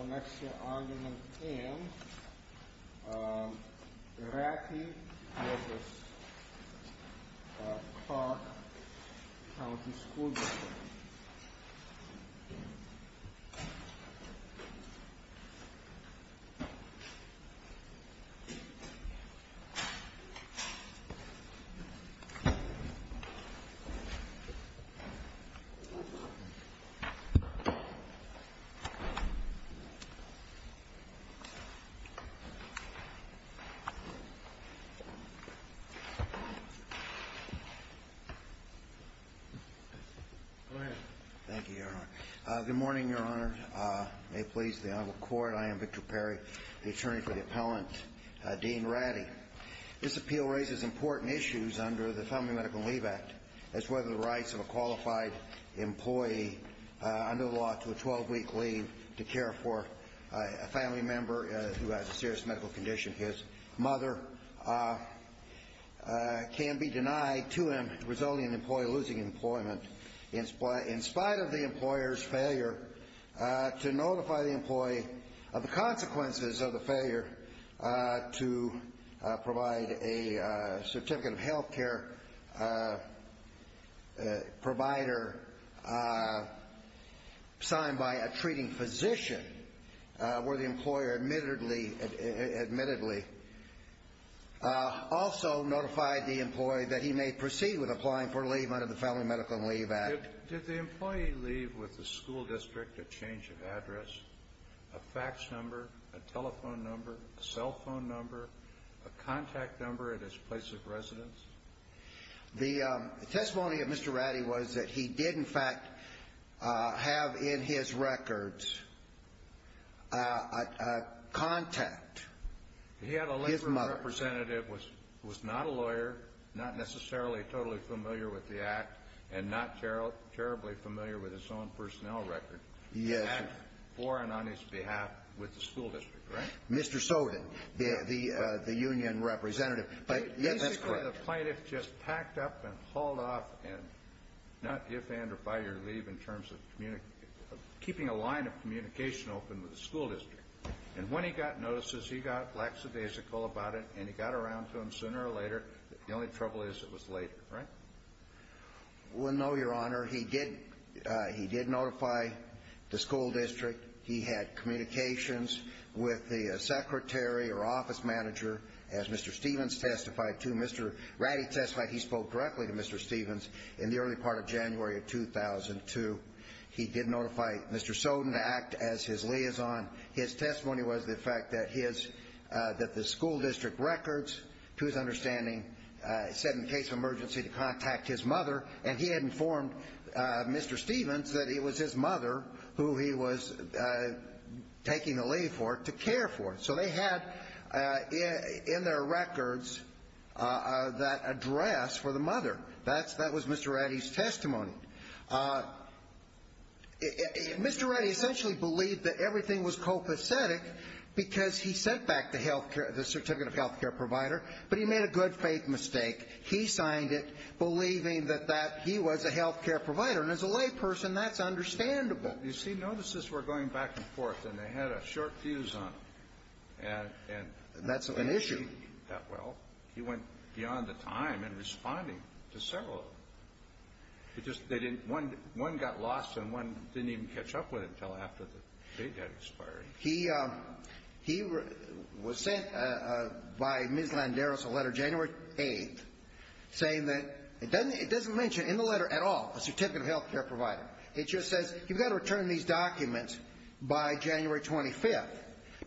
Onexia Argument M. Ratty v. Clark Co. School District Good morning, Your Honor. May it please the Honorable Court, I am Victor Perry, the attorney for the appellant, Dean Ratty. This appeal raises important issues under the Family Medical to a 12-week leave to care for a family member who has a serious medical condition. His mother can be denied to him, resulting in the employee losing employment, in spite of the employer's failure to notify the employee of the consequences of the failure to provide a certificate of service, signed by a treating physician, where the employer admittedly also notified the employee that he may proceed with applying for leave under the Family Medical and Leave Act. Did the employee leave with the school district a change of address, a fax number, a telephone number, a cell phone number, a contact number at his place of residence? The testimony of Mr. Ratty was that he did, in fact, have in his records a contact. He had a legal representative who was not a lawyer, not necessarily totally familiar with the Act, and not terribly familiar with his own personnel record. Yes. That's foreign on his behalf with the school district, right? Mr. Sowden, the union representative. Basically, the plaintiff just packed up and hauled off, and not give and or fire leave in terms of keeping a line of communication open with the school district. And when he got notices, he got lackadaisical about it, and he got around to them sooner or later. The only trouble is it was later, right? Well, no, Your Honor. He did notify the school district. He had communications with the secretary or office manager, as Mr. Stevens testified to. Mr. Ratty testified he spoke directly to Mr. Stevens in the early part of January of 2002. He did notify Mr. Sowden to act as his liaison. His testimony was the fact that the school district records, to his understanding, said in case of emergency to contact his mother, and he had informed Mr. Stevens that it was his mother who he was taking the leave for to care for. So they had in their records that address for the mother. That was Mr. Ratty's testimony. Mr. Ratty essentially believed that everything was copacetic because he sent back the certificate of health care provider, but he made a good faith mistake. He signed it believing that that he was a health care provider. And as a layperson, that's understandable. You see, notices were going back and forth, and they had a short fuse on them. That's an issue. Well, he went beyond the time in responding to several of them. One got lost, and one didn't even catch up with him until after the date had expired. He was sent by Ms. Landeros a letter January 8th saying that it doesn't mention in the letter at all a certificate of health care provider. It just says you've got to return these documents by January 25th.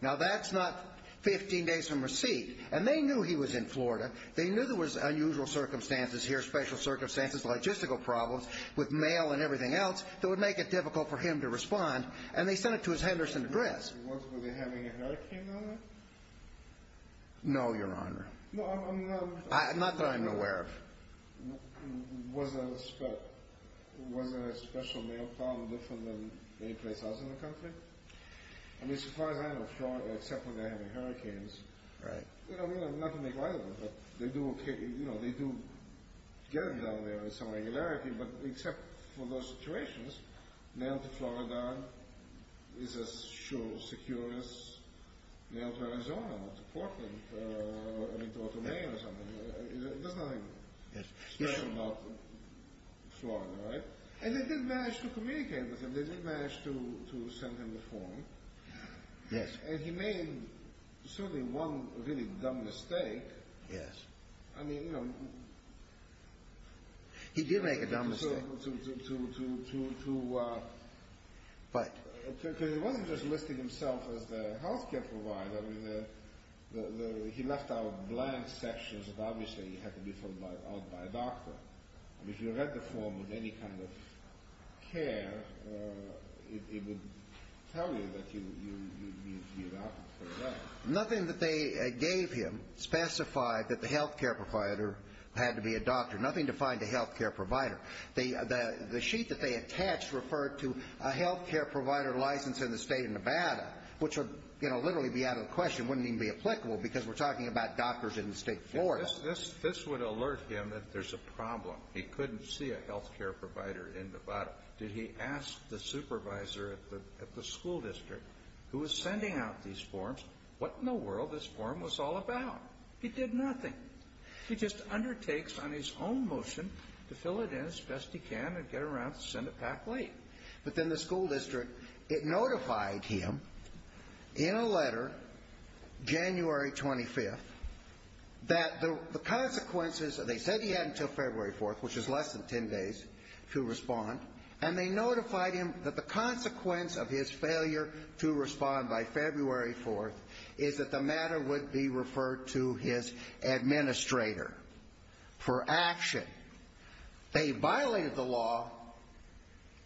Now that's not 15 days from receipt. And they knew he was in Florida. They knew there was unusual circumstances here, special circumstances, logistical problems with mail and everything else that would make it difficult for him to respond, and they sent it to his Henderson address. Were they having a hurricane down there? No, Your Honor. Not that I'm aware of. Was there a special mail problem different than anyplace else in the country? I mean, so far as I know of Florida, except when they're having hurricanes. Right. I mean, not to make light of it, but they do get it down there on some regularity, but except for those situations, mail to Florida is as sure and secure as mail to Arizona or to Portland or to Otome or something. There's nothing special about Florida, right? And they did manage to communicate with him. They did manage to send him a form. Yes. And he made certainly one really dumb mistake. Yes. I mean, you know... He did make a dumb mistake. To... What? Because he wasn't just listing himself as the health care provider. I mean, he left out blank sections that obviously had to be filled out by a doctor. If you read the form of any kind of care, it would tell you that you need to be adopted for that. Nothing that they gave him specified that the health care provider had to be adopted. Nothing defined a health care provider. The sheet that they attached referred to a health care provider license in the state of Nevada, which would, you know, literally be out of the question. It wouldn't even be applicable because we're talking about doctors in the state of Florida. This would alert him that there's a problem. He couldn't see a health care provider in Nevada. Did he ask the supervisor at the school district, who was sending out these forms, what in the world this form was all about? He did nothing. He just undertakes on his own motion to fill it in as best he can and get around to send it back late. But then the school district, it notified him in a letter, January 25th, that the consequences that they said he had until February 4th, which is less than 10 days to respond, and they notified him that the consequence of his failure to respond by February 4th is that the matter would be referred to his administrator for action. They violated the law.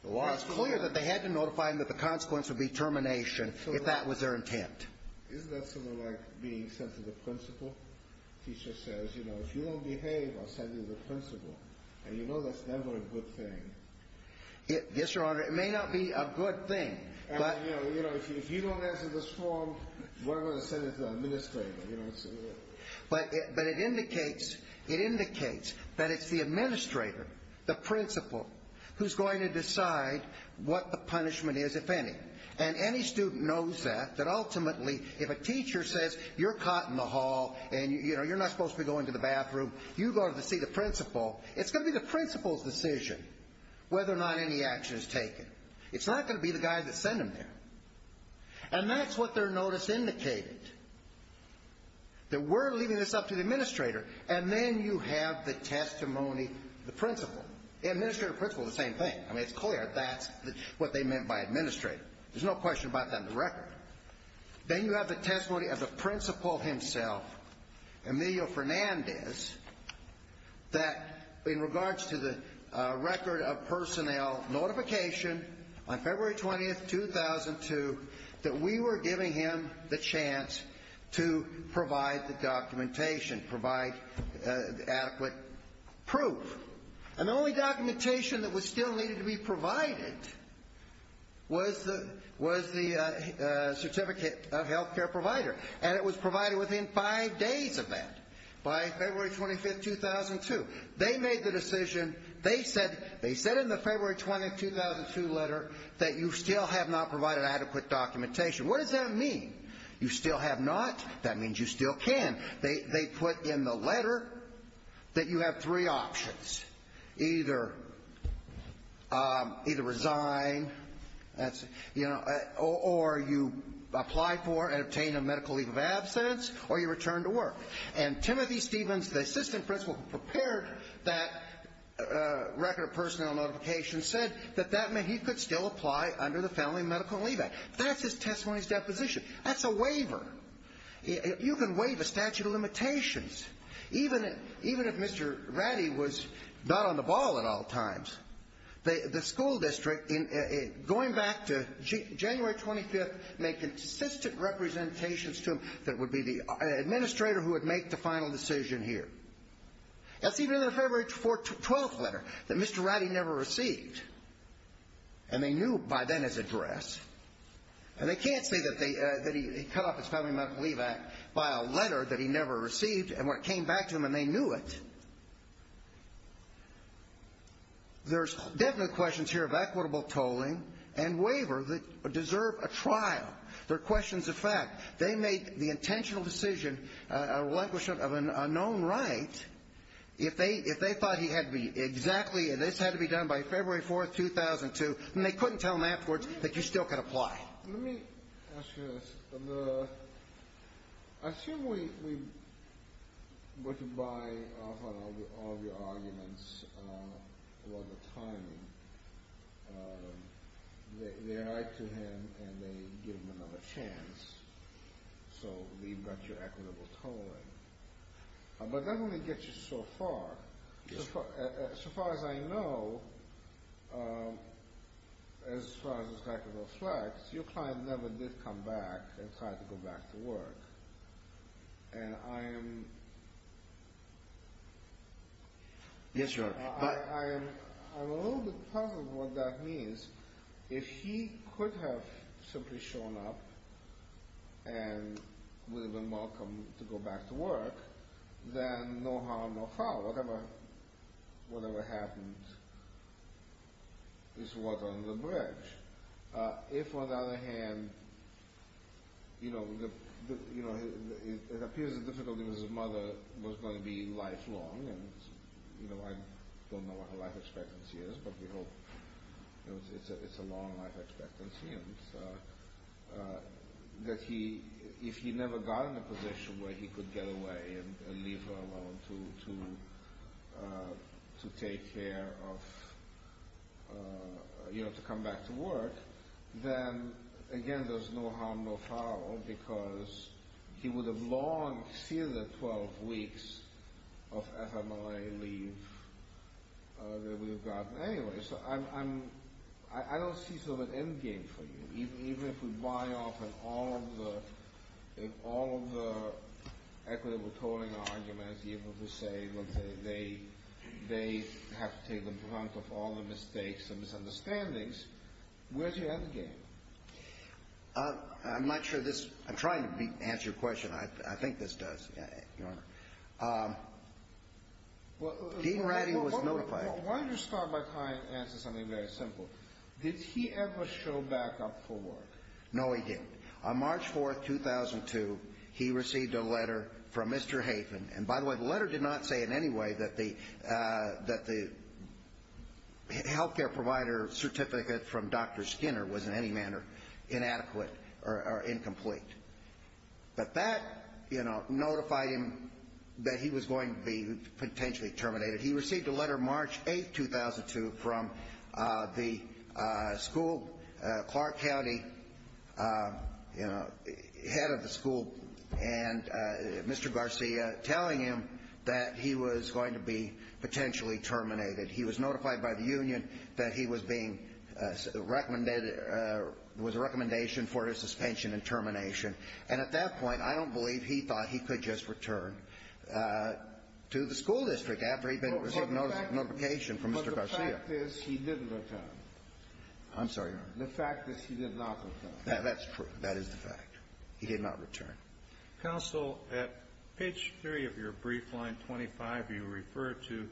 The law is clear that they had to notify him that the consequence would be termination if that was their intent. Isn't that sort of like being sent to the principal? The teacher says, you know, if you don't behave, I'll send you to the principal. And you know that's never a good thing. Yes, Your Honor. It may not be a good thing. You know, if you don't answer this form, we're going to send it to the administrator. But it indicates that it's the administrator, the principal, who's going to decide what the punishment is, if any. And any student knows that, that ultimately, if a teacher says, you're caught in the hall, and you're not supposed to be going to the bathroom, you go to see the principal, it's going to be the principal's decision whether or not any action is taken. It's not going to be the guy that sent him there. And that's what their notice indicated. That we're leaving this up to the administrator, and then you have the testimony, the principal. Administrator, principal, the same thing. I mean, it's clear that's what they meant by administrator. There's no question about that in the record. Then you have the testimony of the principal himself, Emilio Fernandez, that in regards to the record of personnel notification on February 20, 2002, that we were giving him the chance to provide the documentation, provide adequate proof. And the only documentation that still needed to be provided was the certificate of health care provider. And it was provided within five days of that, by February 25, 2002. They made the decision, they said in the February 20, 2002 letter, that you still have not provided adequate documentation. What does that mean? You still have not? That means you still can. They put in the letter that you have three options. Either resign, or you apply for and obtain a medical leave of absence, or you return to work. And Timothy Stevens, the assistant principal who prepared that record of personnel notification, said that he could still apply under the Family Medical Leave Act. That's his testimony's deposition. That's a waiver. You can waive a statute of limitations, even if Mr. Ratty was not on the ball at all times. The school district, going back to January 25, made consistent representations to him that it would be the administrator who would make the final decision here. That's even in the February 12 letter that Mr. Ratty never received. And they knew by then his address. And they can't say that he cut off his Family Medical Leave Act by a letter that he never received, and when it came back to him and they knew it. There's definite questions here of equitable tolling and waiver that deserve a trial. They're questions of fact. They made the intentional decision, a relinquishment of an unknown right, if they thought he had to be exactly, and this had to be done by February 4, 2002, and they couldn't tell him afterwards that he still could apply. Let me ask you this. Assume we were to buy off all of your arguments about the timing. They write to him and they give him another chance, so we've got your equitable tolling. But that only gets you so far. As far as I know, as far as this has to reflect, your client never did come back and try to go back to work. And I am a little bit puzzled what that means. If he could have simply shown up and would have been welcome to go back to work, then no harm, no foul. Whatever happened is water under the bridge. If, on the other hand, it appears the difficulty with his mother was going to be lifelong, and I don't know what her life expectancy is, but we hope it's a long life expectancy. If he never got in a position where he could get away and leave her alone to take care of, to come back to work, then again there's no harm, no foul, because he would have long feared the 12 weeks of FMLA leave that we would have gotten. Anyway, I don't see sort of an endgame for you. Even if we buy off all of the equitable tolling arguments, even if we say they have to take the brunt of all the mistakes and misunderstandings, where's your endgame? I'm not sure this – I'm trying to answer your question. I think this does, Your Honor. Dean Ratty was notified. Why don't you start by answering something very simple. Did he ever show back up for work? No, he didn't. On March 4, 2002, he received a letter from Mr. Hafen. And by the way, the letter did not say in any way that the healthcare provider certificate from Dr. Skinner was in any manner inadequate or incomplete. But that notified him that he was going to be potentially terminated. He received a letter March 8, 2002, from the Clark County head of the school, Mr. Garcia, telling him that he was going to be potentially terminated. He was notified by the union that he was being – was a recommendation for his suspension and termination. And at that point, I don't believe he thought he could just return to the school district after he'd been – received notification from Mr. Garcia. But the fact is he didn't return. I'm sorry, Your Honor. The fact is he did not return. That's true. That is the fact. He did not return. Counsel, at page 3 of your brief, line 25, you refer to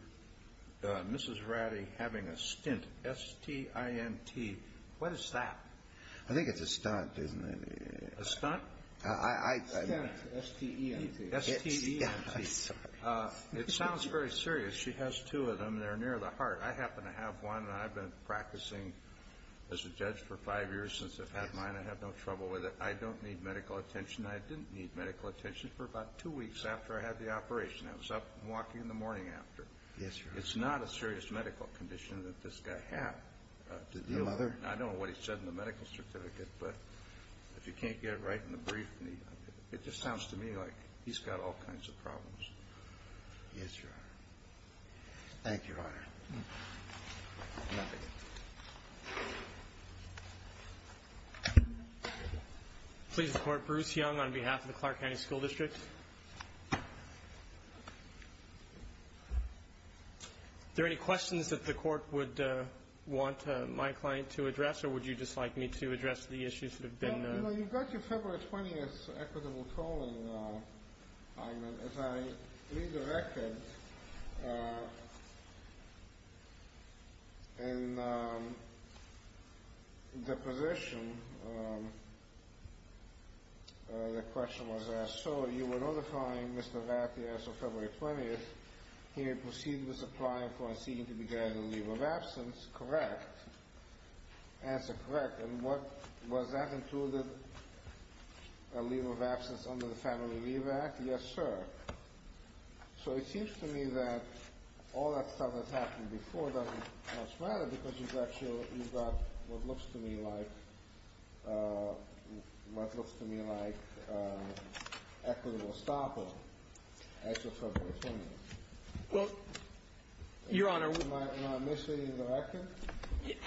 Mrs. Ratty having a stint, S-T-I-N-T. What is that? I think it's a stunt, isn't it? A stunt? A stunt, S-T-E-N-T. S-T-E-N-T. I'm sorry. It sounds very serious. She has two of them. They're near the heart. I happen to have one, and I've been practicing as a judge for five years since I've had mine. I have no trouble with it. I don't need medical attention. I didn't need medical attention for about two weeks after I had the operation. I was up and walking in the morning after. Yes, Your Honor. It's not a serious medical condition that this guy had to deal with. No other? I don't know what it said in the medical certificate, but if you can't get it right in the brief, it just sounds to me like he's got all kinds of problems. Yes, Your Honor. Thank you, Your Honor. Please report Bruce Young on behalf of the Clark County School District. Thank you, Your Honor. Are there any questions that the court would want my client to address, or would you just like me to address the issues that have been raised? Well, you know, you got your February 20th equitable tolling. If I read the record, in the position the question was asked, so you were notifying Mr. Raffi as of February 20th he may proceed with applying for and seeking to be granted a leave of absence, correct? Answer, correct. And was that included, a leave of absence under the Family Relief Act? Yes, sir. So it seems to me that all that stuff that's happened before doesn't much matter because you've actually got what looks to me like equitable stoppage as of February 20th. Well, Your Honor. Am I misleading the record?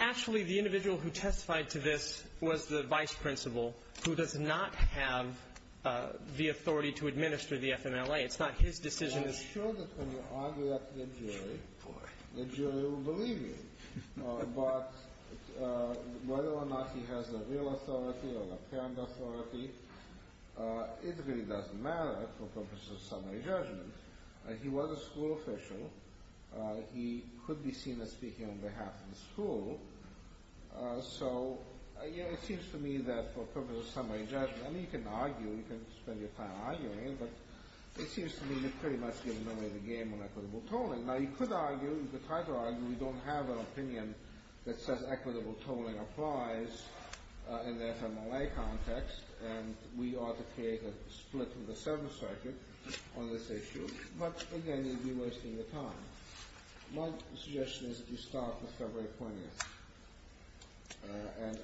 Actually, the individual who testified to this was the vice principal who does not have the authority to administer the FMLA. It's not his decision. I'm sure that when you argue that to the jury, the jury will believe you. But whether or not he has the real authority or the parent authority, it really doesn't matter for purposes of summary judgment. He was a school official. He could be seen as speaking on behalf of the school. So, you know, it seems to me that for purposes of summary judgment, I mean you can argue, you can spend your time arguing, but it seems to me you're pretty much giving away the game on equitable tolling. Now, you could argue, you could try to argue we don't have an opinion that says equitable tolling applies in the FMLA context and we ought to create a split in the service circuit on this issue. But, again, you'd be wasting your time. My suggestion is that you start with February 20th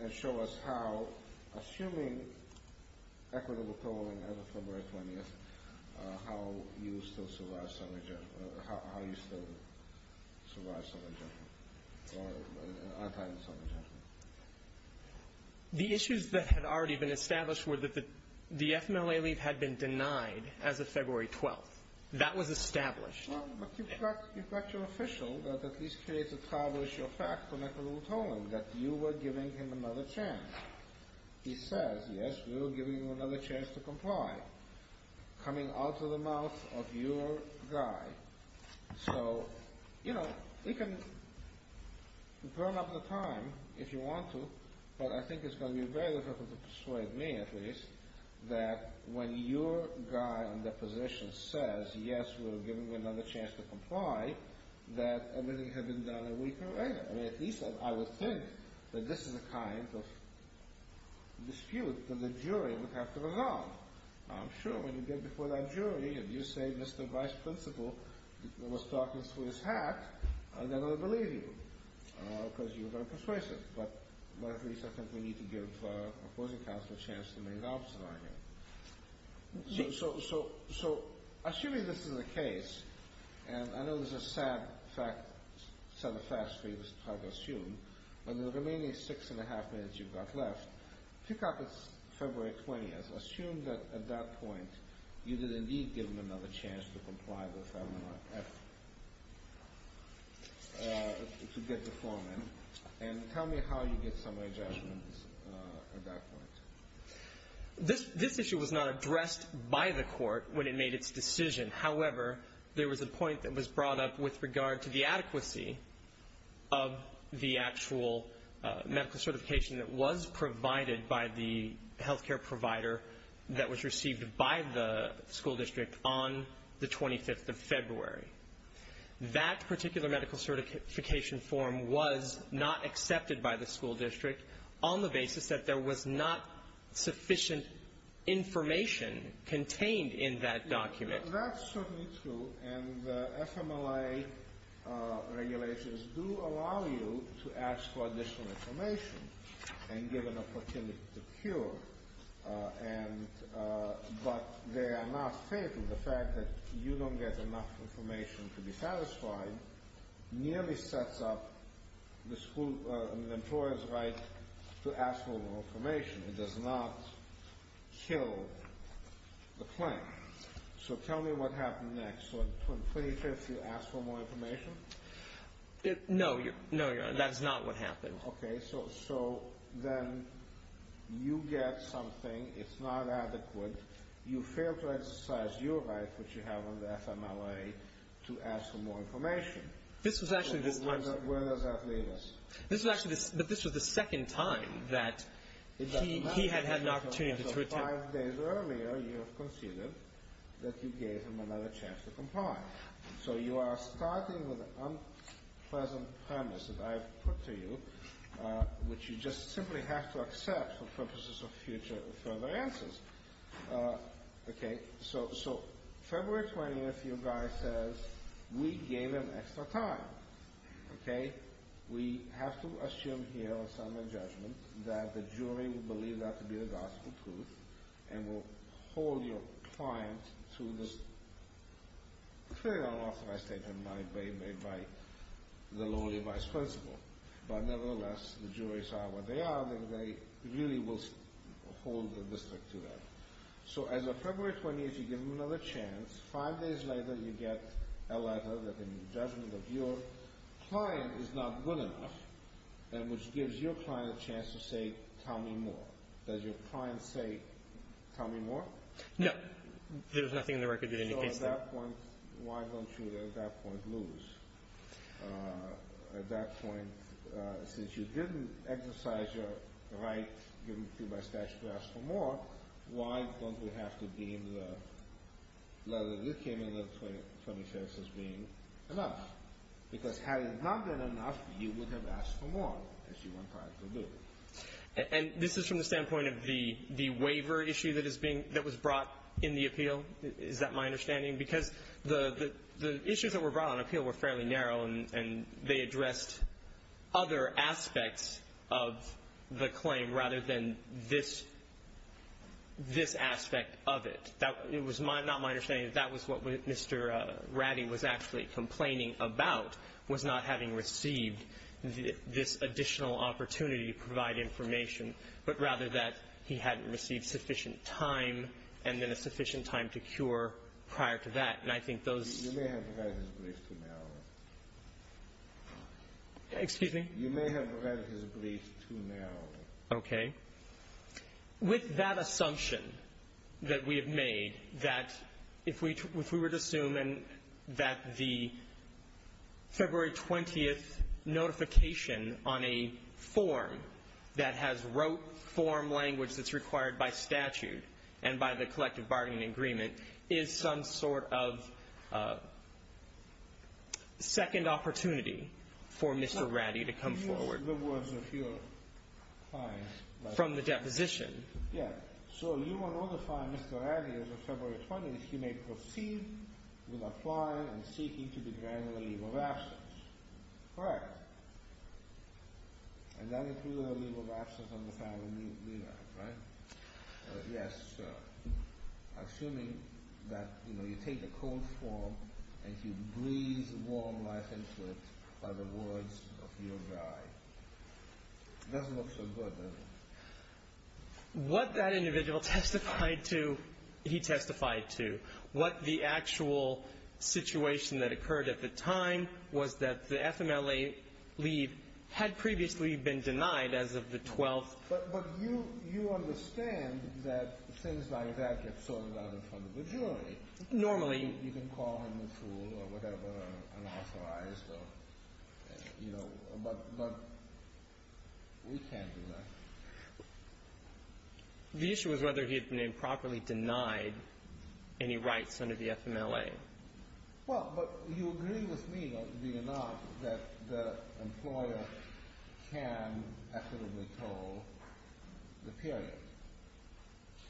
and show us how, assuming equitable tolling as of February 20th, how you still survive summary judgment or how you still survive summary judgment or are entitled to summary judgment. The issues that had already been established were that the FMLA leave had been denied as of February 12th. That was established. Well, but you've got your official that at least creates a tribal issue of fact for equitable tolling that you were giving him another chance. He says, yes, we were giving you another chance to comply, coming out of the mouth of your guy. So, you know, you can burn up the time if you want to, but I think it's going to be very difficult to persuade me, at least, that when your guy in the position says, yes, we're giving you another chance to comply, that everything had been done a week or later. I mean, at least I would think that this is the kind of dispute that the jury would have to resolve. I'm sure when you get before that jury and you say Mr. Vice Principal was talking through his hat, they're going to believe you because you're very persuasive. But at least I think we need to give our opposing counsel a chance to make an opposite argument. So, assuming this is the case, and I know this is a sad set of facts for you to try to assume, but in the remaining six and a half minutes you've got left, pick up this February 20th. Assume that at that point you did indeed give him another chance to comply with FMLA, to get the form in, and tell me how you get some adjustments at that point. This issue was not addressed by the court when it made its decision. However, there was a point that was brought up with regard to the adequacy of the actual medical certification that was provided by the health care provider that was received by the school district on the 25th of February. That particular medical certification form was not accepted by the school district on the basis that there was not sufficient information contained in that document. That's certainly true, and the FMLA regulations do allow you to ask for additional information and give an opportunity to cure. But they are not fatal. The fact that you don't get enough information to be satisfied nearly sets up the employer's right to ask for more information. It does not kill the claim. So tell me what happened next. So on the 25th you asked for more information? No, Your Honor, that is not what happened. Okay. So then you get something. It's not adequate. You fail to exercise your right, which you have on the FMLA, to ask for more information. Where does that leave us? This was actually the second time that he had had an opportunity to return. So five days earlier you have conceded that you gave him another chance to comply. So you are starting with an unpleasant premise that I have put to you, which you just simply have to accept for purposes of future further answers. Okay. So February 20th your guy says, we gave him extra time. Okay. We have to assume here on settlement judgment that the jury will believe that to be the gospel truth and will hold your client to this clear unauthorized statement made by the lowly vice principal. But nevertheless, the juries are what they are. They really will hold the district to that. So as of February 20th you give him another chance. Five days later you get a letter that in judgment of your client is not good enough, which gives your client a chance to say, tell me more. Does your client say, tell me more? No. There's nothing in the record that indicates that. So at that point, why don't you at that point lose? At that point, since you didn't exercise your right given to you by statute to ask for more, why don't we have to deem the letter that you came in with, 26, as being enough? Because had it not been enough, you would have asked for more, as you went on to do. And this is from the standpoint of the waiver issue that was brought in the appeal. Is that my understanding? Because the issues that were brought on appeal were fairly narrow, and they addressed other aspects of the claim rather than this aspect of it. It was not my understanding that that was what Mr. Ratty was actually complaining about was not having received this additional opportunity to provide information, but rather that he hadn't received sufficient time and then a sufficient time to cure prior to that. And I think those ---- You may have provided his brief too narrowly. Excuse me? You may have provided his brief too narrowly. Okay. With that assumption that we have made that if we were to assume that the February 20th notification on a form that has wrote form language that's required by statute and by the collective bargaining agreement is some sort of second opportunity for Mr. Ratty to come forward. Can you use the words of your client? From the deposition. Yes. So you will notify Mr. Ratty as of February 20th he may proceed with applying and seeking to be granted a leave of absence. Correct. And that includes a leave of absence on the family leave act, right? Yes, sir. Assuming that, you know, you take a cold form and you breathe warm life into it by the words of your guy. It doesn't look so good, does it? What that individual testified to he testified to. What the actual situation that occurred at the time was that the FMLA leave had previously been denied as of the 12th. But you understand that things like that get sorted out in front of the jury. Normally. You can call him a fool or whatever, unauthorized or, you know. But we can't do that. The issue was whether he had been improperly denied any rights under the FMLA. Well, but you agree with me, believe it or not, that the employer can equitably toll the period.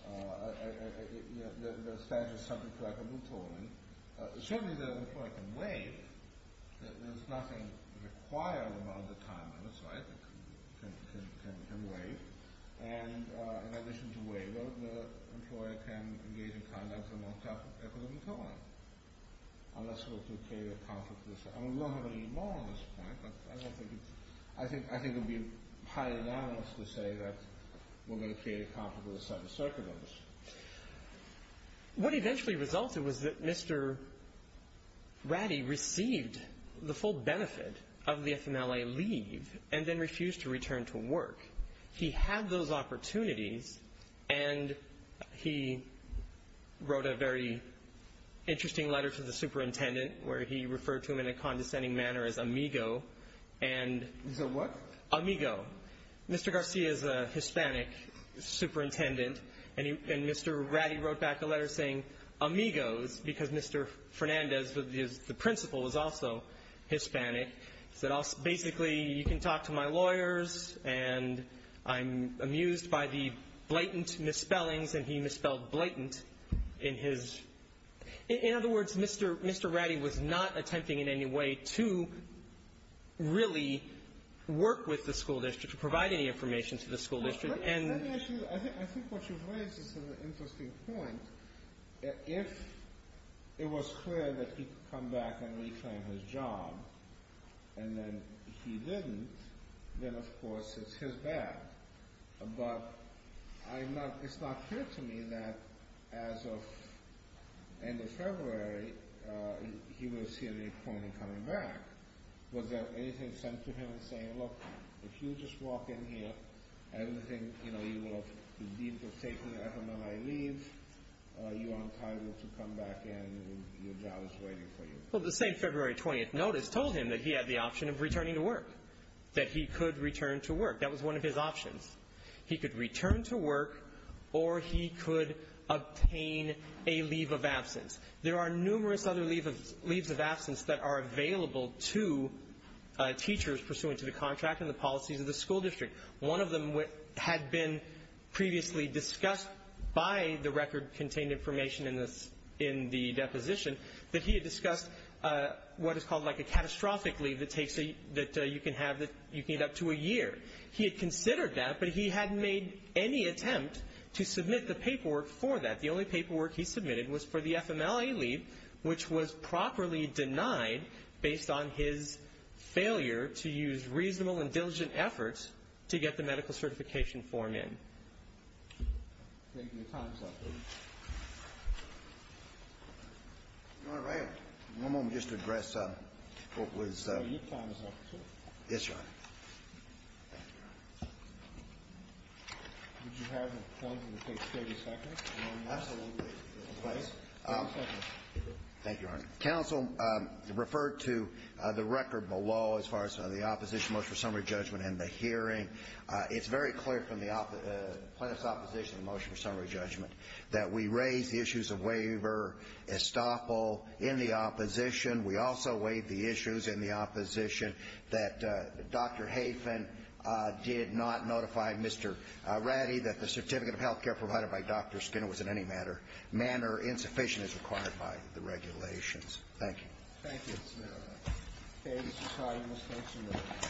The statute is subject to equitably tolling. Certainly the employer can waive. There's nothing required about the time limits, right? It can waive. And in addition to waiving, the employer can engage in conduct that is on top of equitably tolling. Unless it were to create a conflict of interest. I mean, we don't have any law on this point. I think it would be highly anomalous to say that we're going to create a conflict of interest. What eventually resulted was that Mr. Ratty received the full benefit of the FMLA leave and then refused to return to work. He had those opportunities. And he wrote a very interesting letter to the superintendent where he referred to him in a condescending manner as amigo and. He's a what? Amigo. Mr. Garcia is a Hispanic superintendent. And Mr. Ratty wrote back a letter saying amigos because Mr. Fernandez, the principal, is also Hispanic. He said basically you can talk to my lawyers and I'm amused by the blatant misspellings. And he misspelled blatant in his. In other words, Mr. Mr. Ratty was not attempting in any way to really work with the school district to provide any information to the school district. I think what you've raised is an interesting point. If it was clear that he could come back and reclaim his job and then he didn't, then of course it's his bad. But it's not clear to me that as of end of February he would have seen the appointment coming back. Was there anything sent to him saying, look, if you just walk in here, everything, you know, you will be able to safely and effortlessly leave. You are entitled to come back in. Your job is waiting for you. Well, the same February 20th notice told him that he had the option of returning to work, that he could return to work. That was one of his options. He could return to work or he could obtain a leave of absence. There are numerous other leaves of absence that are available to teachers pursuant to the contract and the policies of the school district. One of them had been previously discussed by the record contained information in the deposition, that he had discussed what is called like a catastrophic leave that you can have that you can get up to a year. He had considered that, but he hadn't made any attempt to submit the paperwork for that. The only paperwork he submitted was for the FMLA leave, which was properly denied based on his failure to use reasonable and diligent efforts to get the medical certification form in. Thank you. Your time is up. All right. I'm going to just address what was. Your time is up, too. Yes, Your Honor. Thank you, Your Honor. Would you have a moment to take 30 seconds? Absolutely. Please. 30 seconds. Thank you, Your Honor. Counsel referred to the record below as far as the opposition motion for summary judgment and the hearing. It's very clear from the plaintiff's opposition motion for summary judgment that we raised the issues of waiver, estoppel, in the opposition. We also weighed the issues in the opposition that Dr. Hafen did not notify Mr. Ratty that the certificate of health care provided by Dr. Skinner was in any manner insufficient as required by the regulations. Thank you. Thank you, Mr. Chairman. Okay. Mr. Cardinals, next amendment.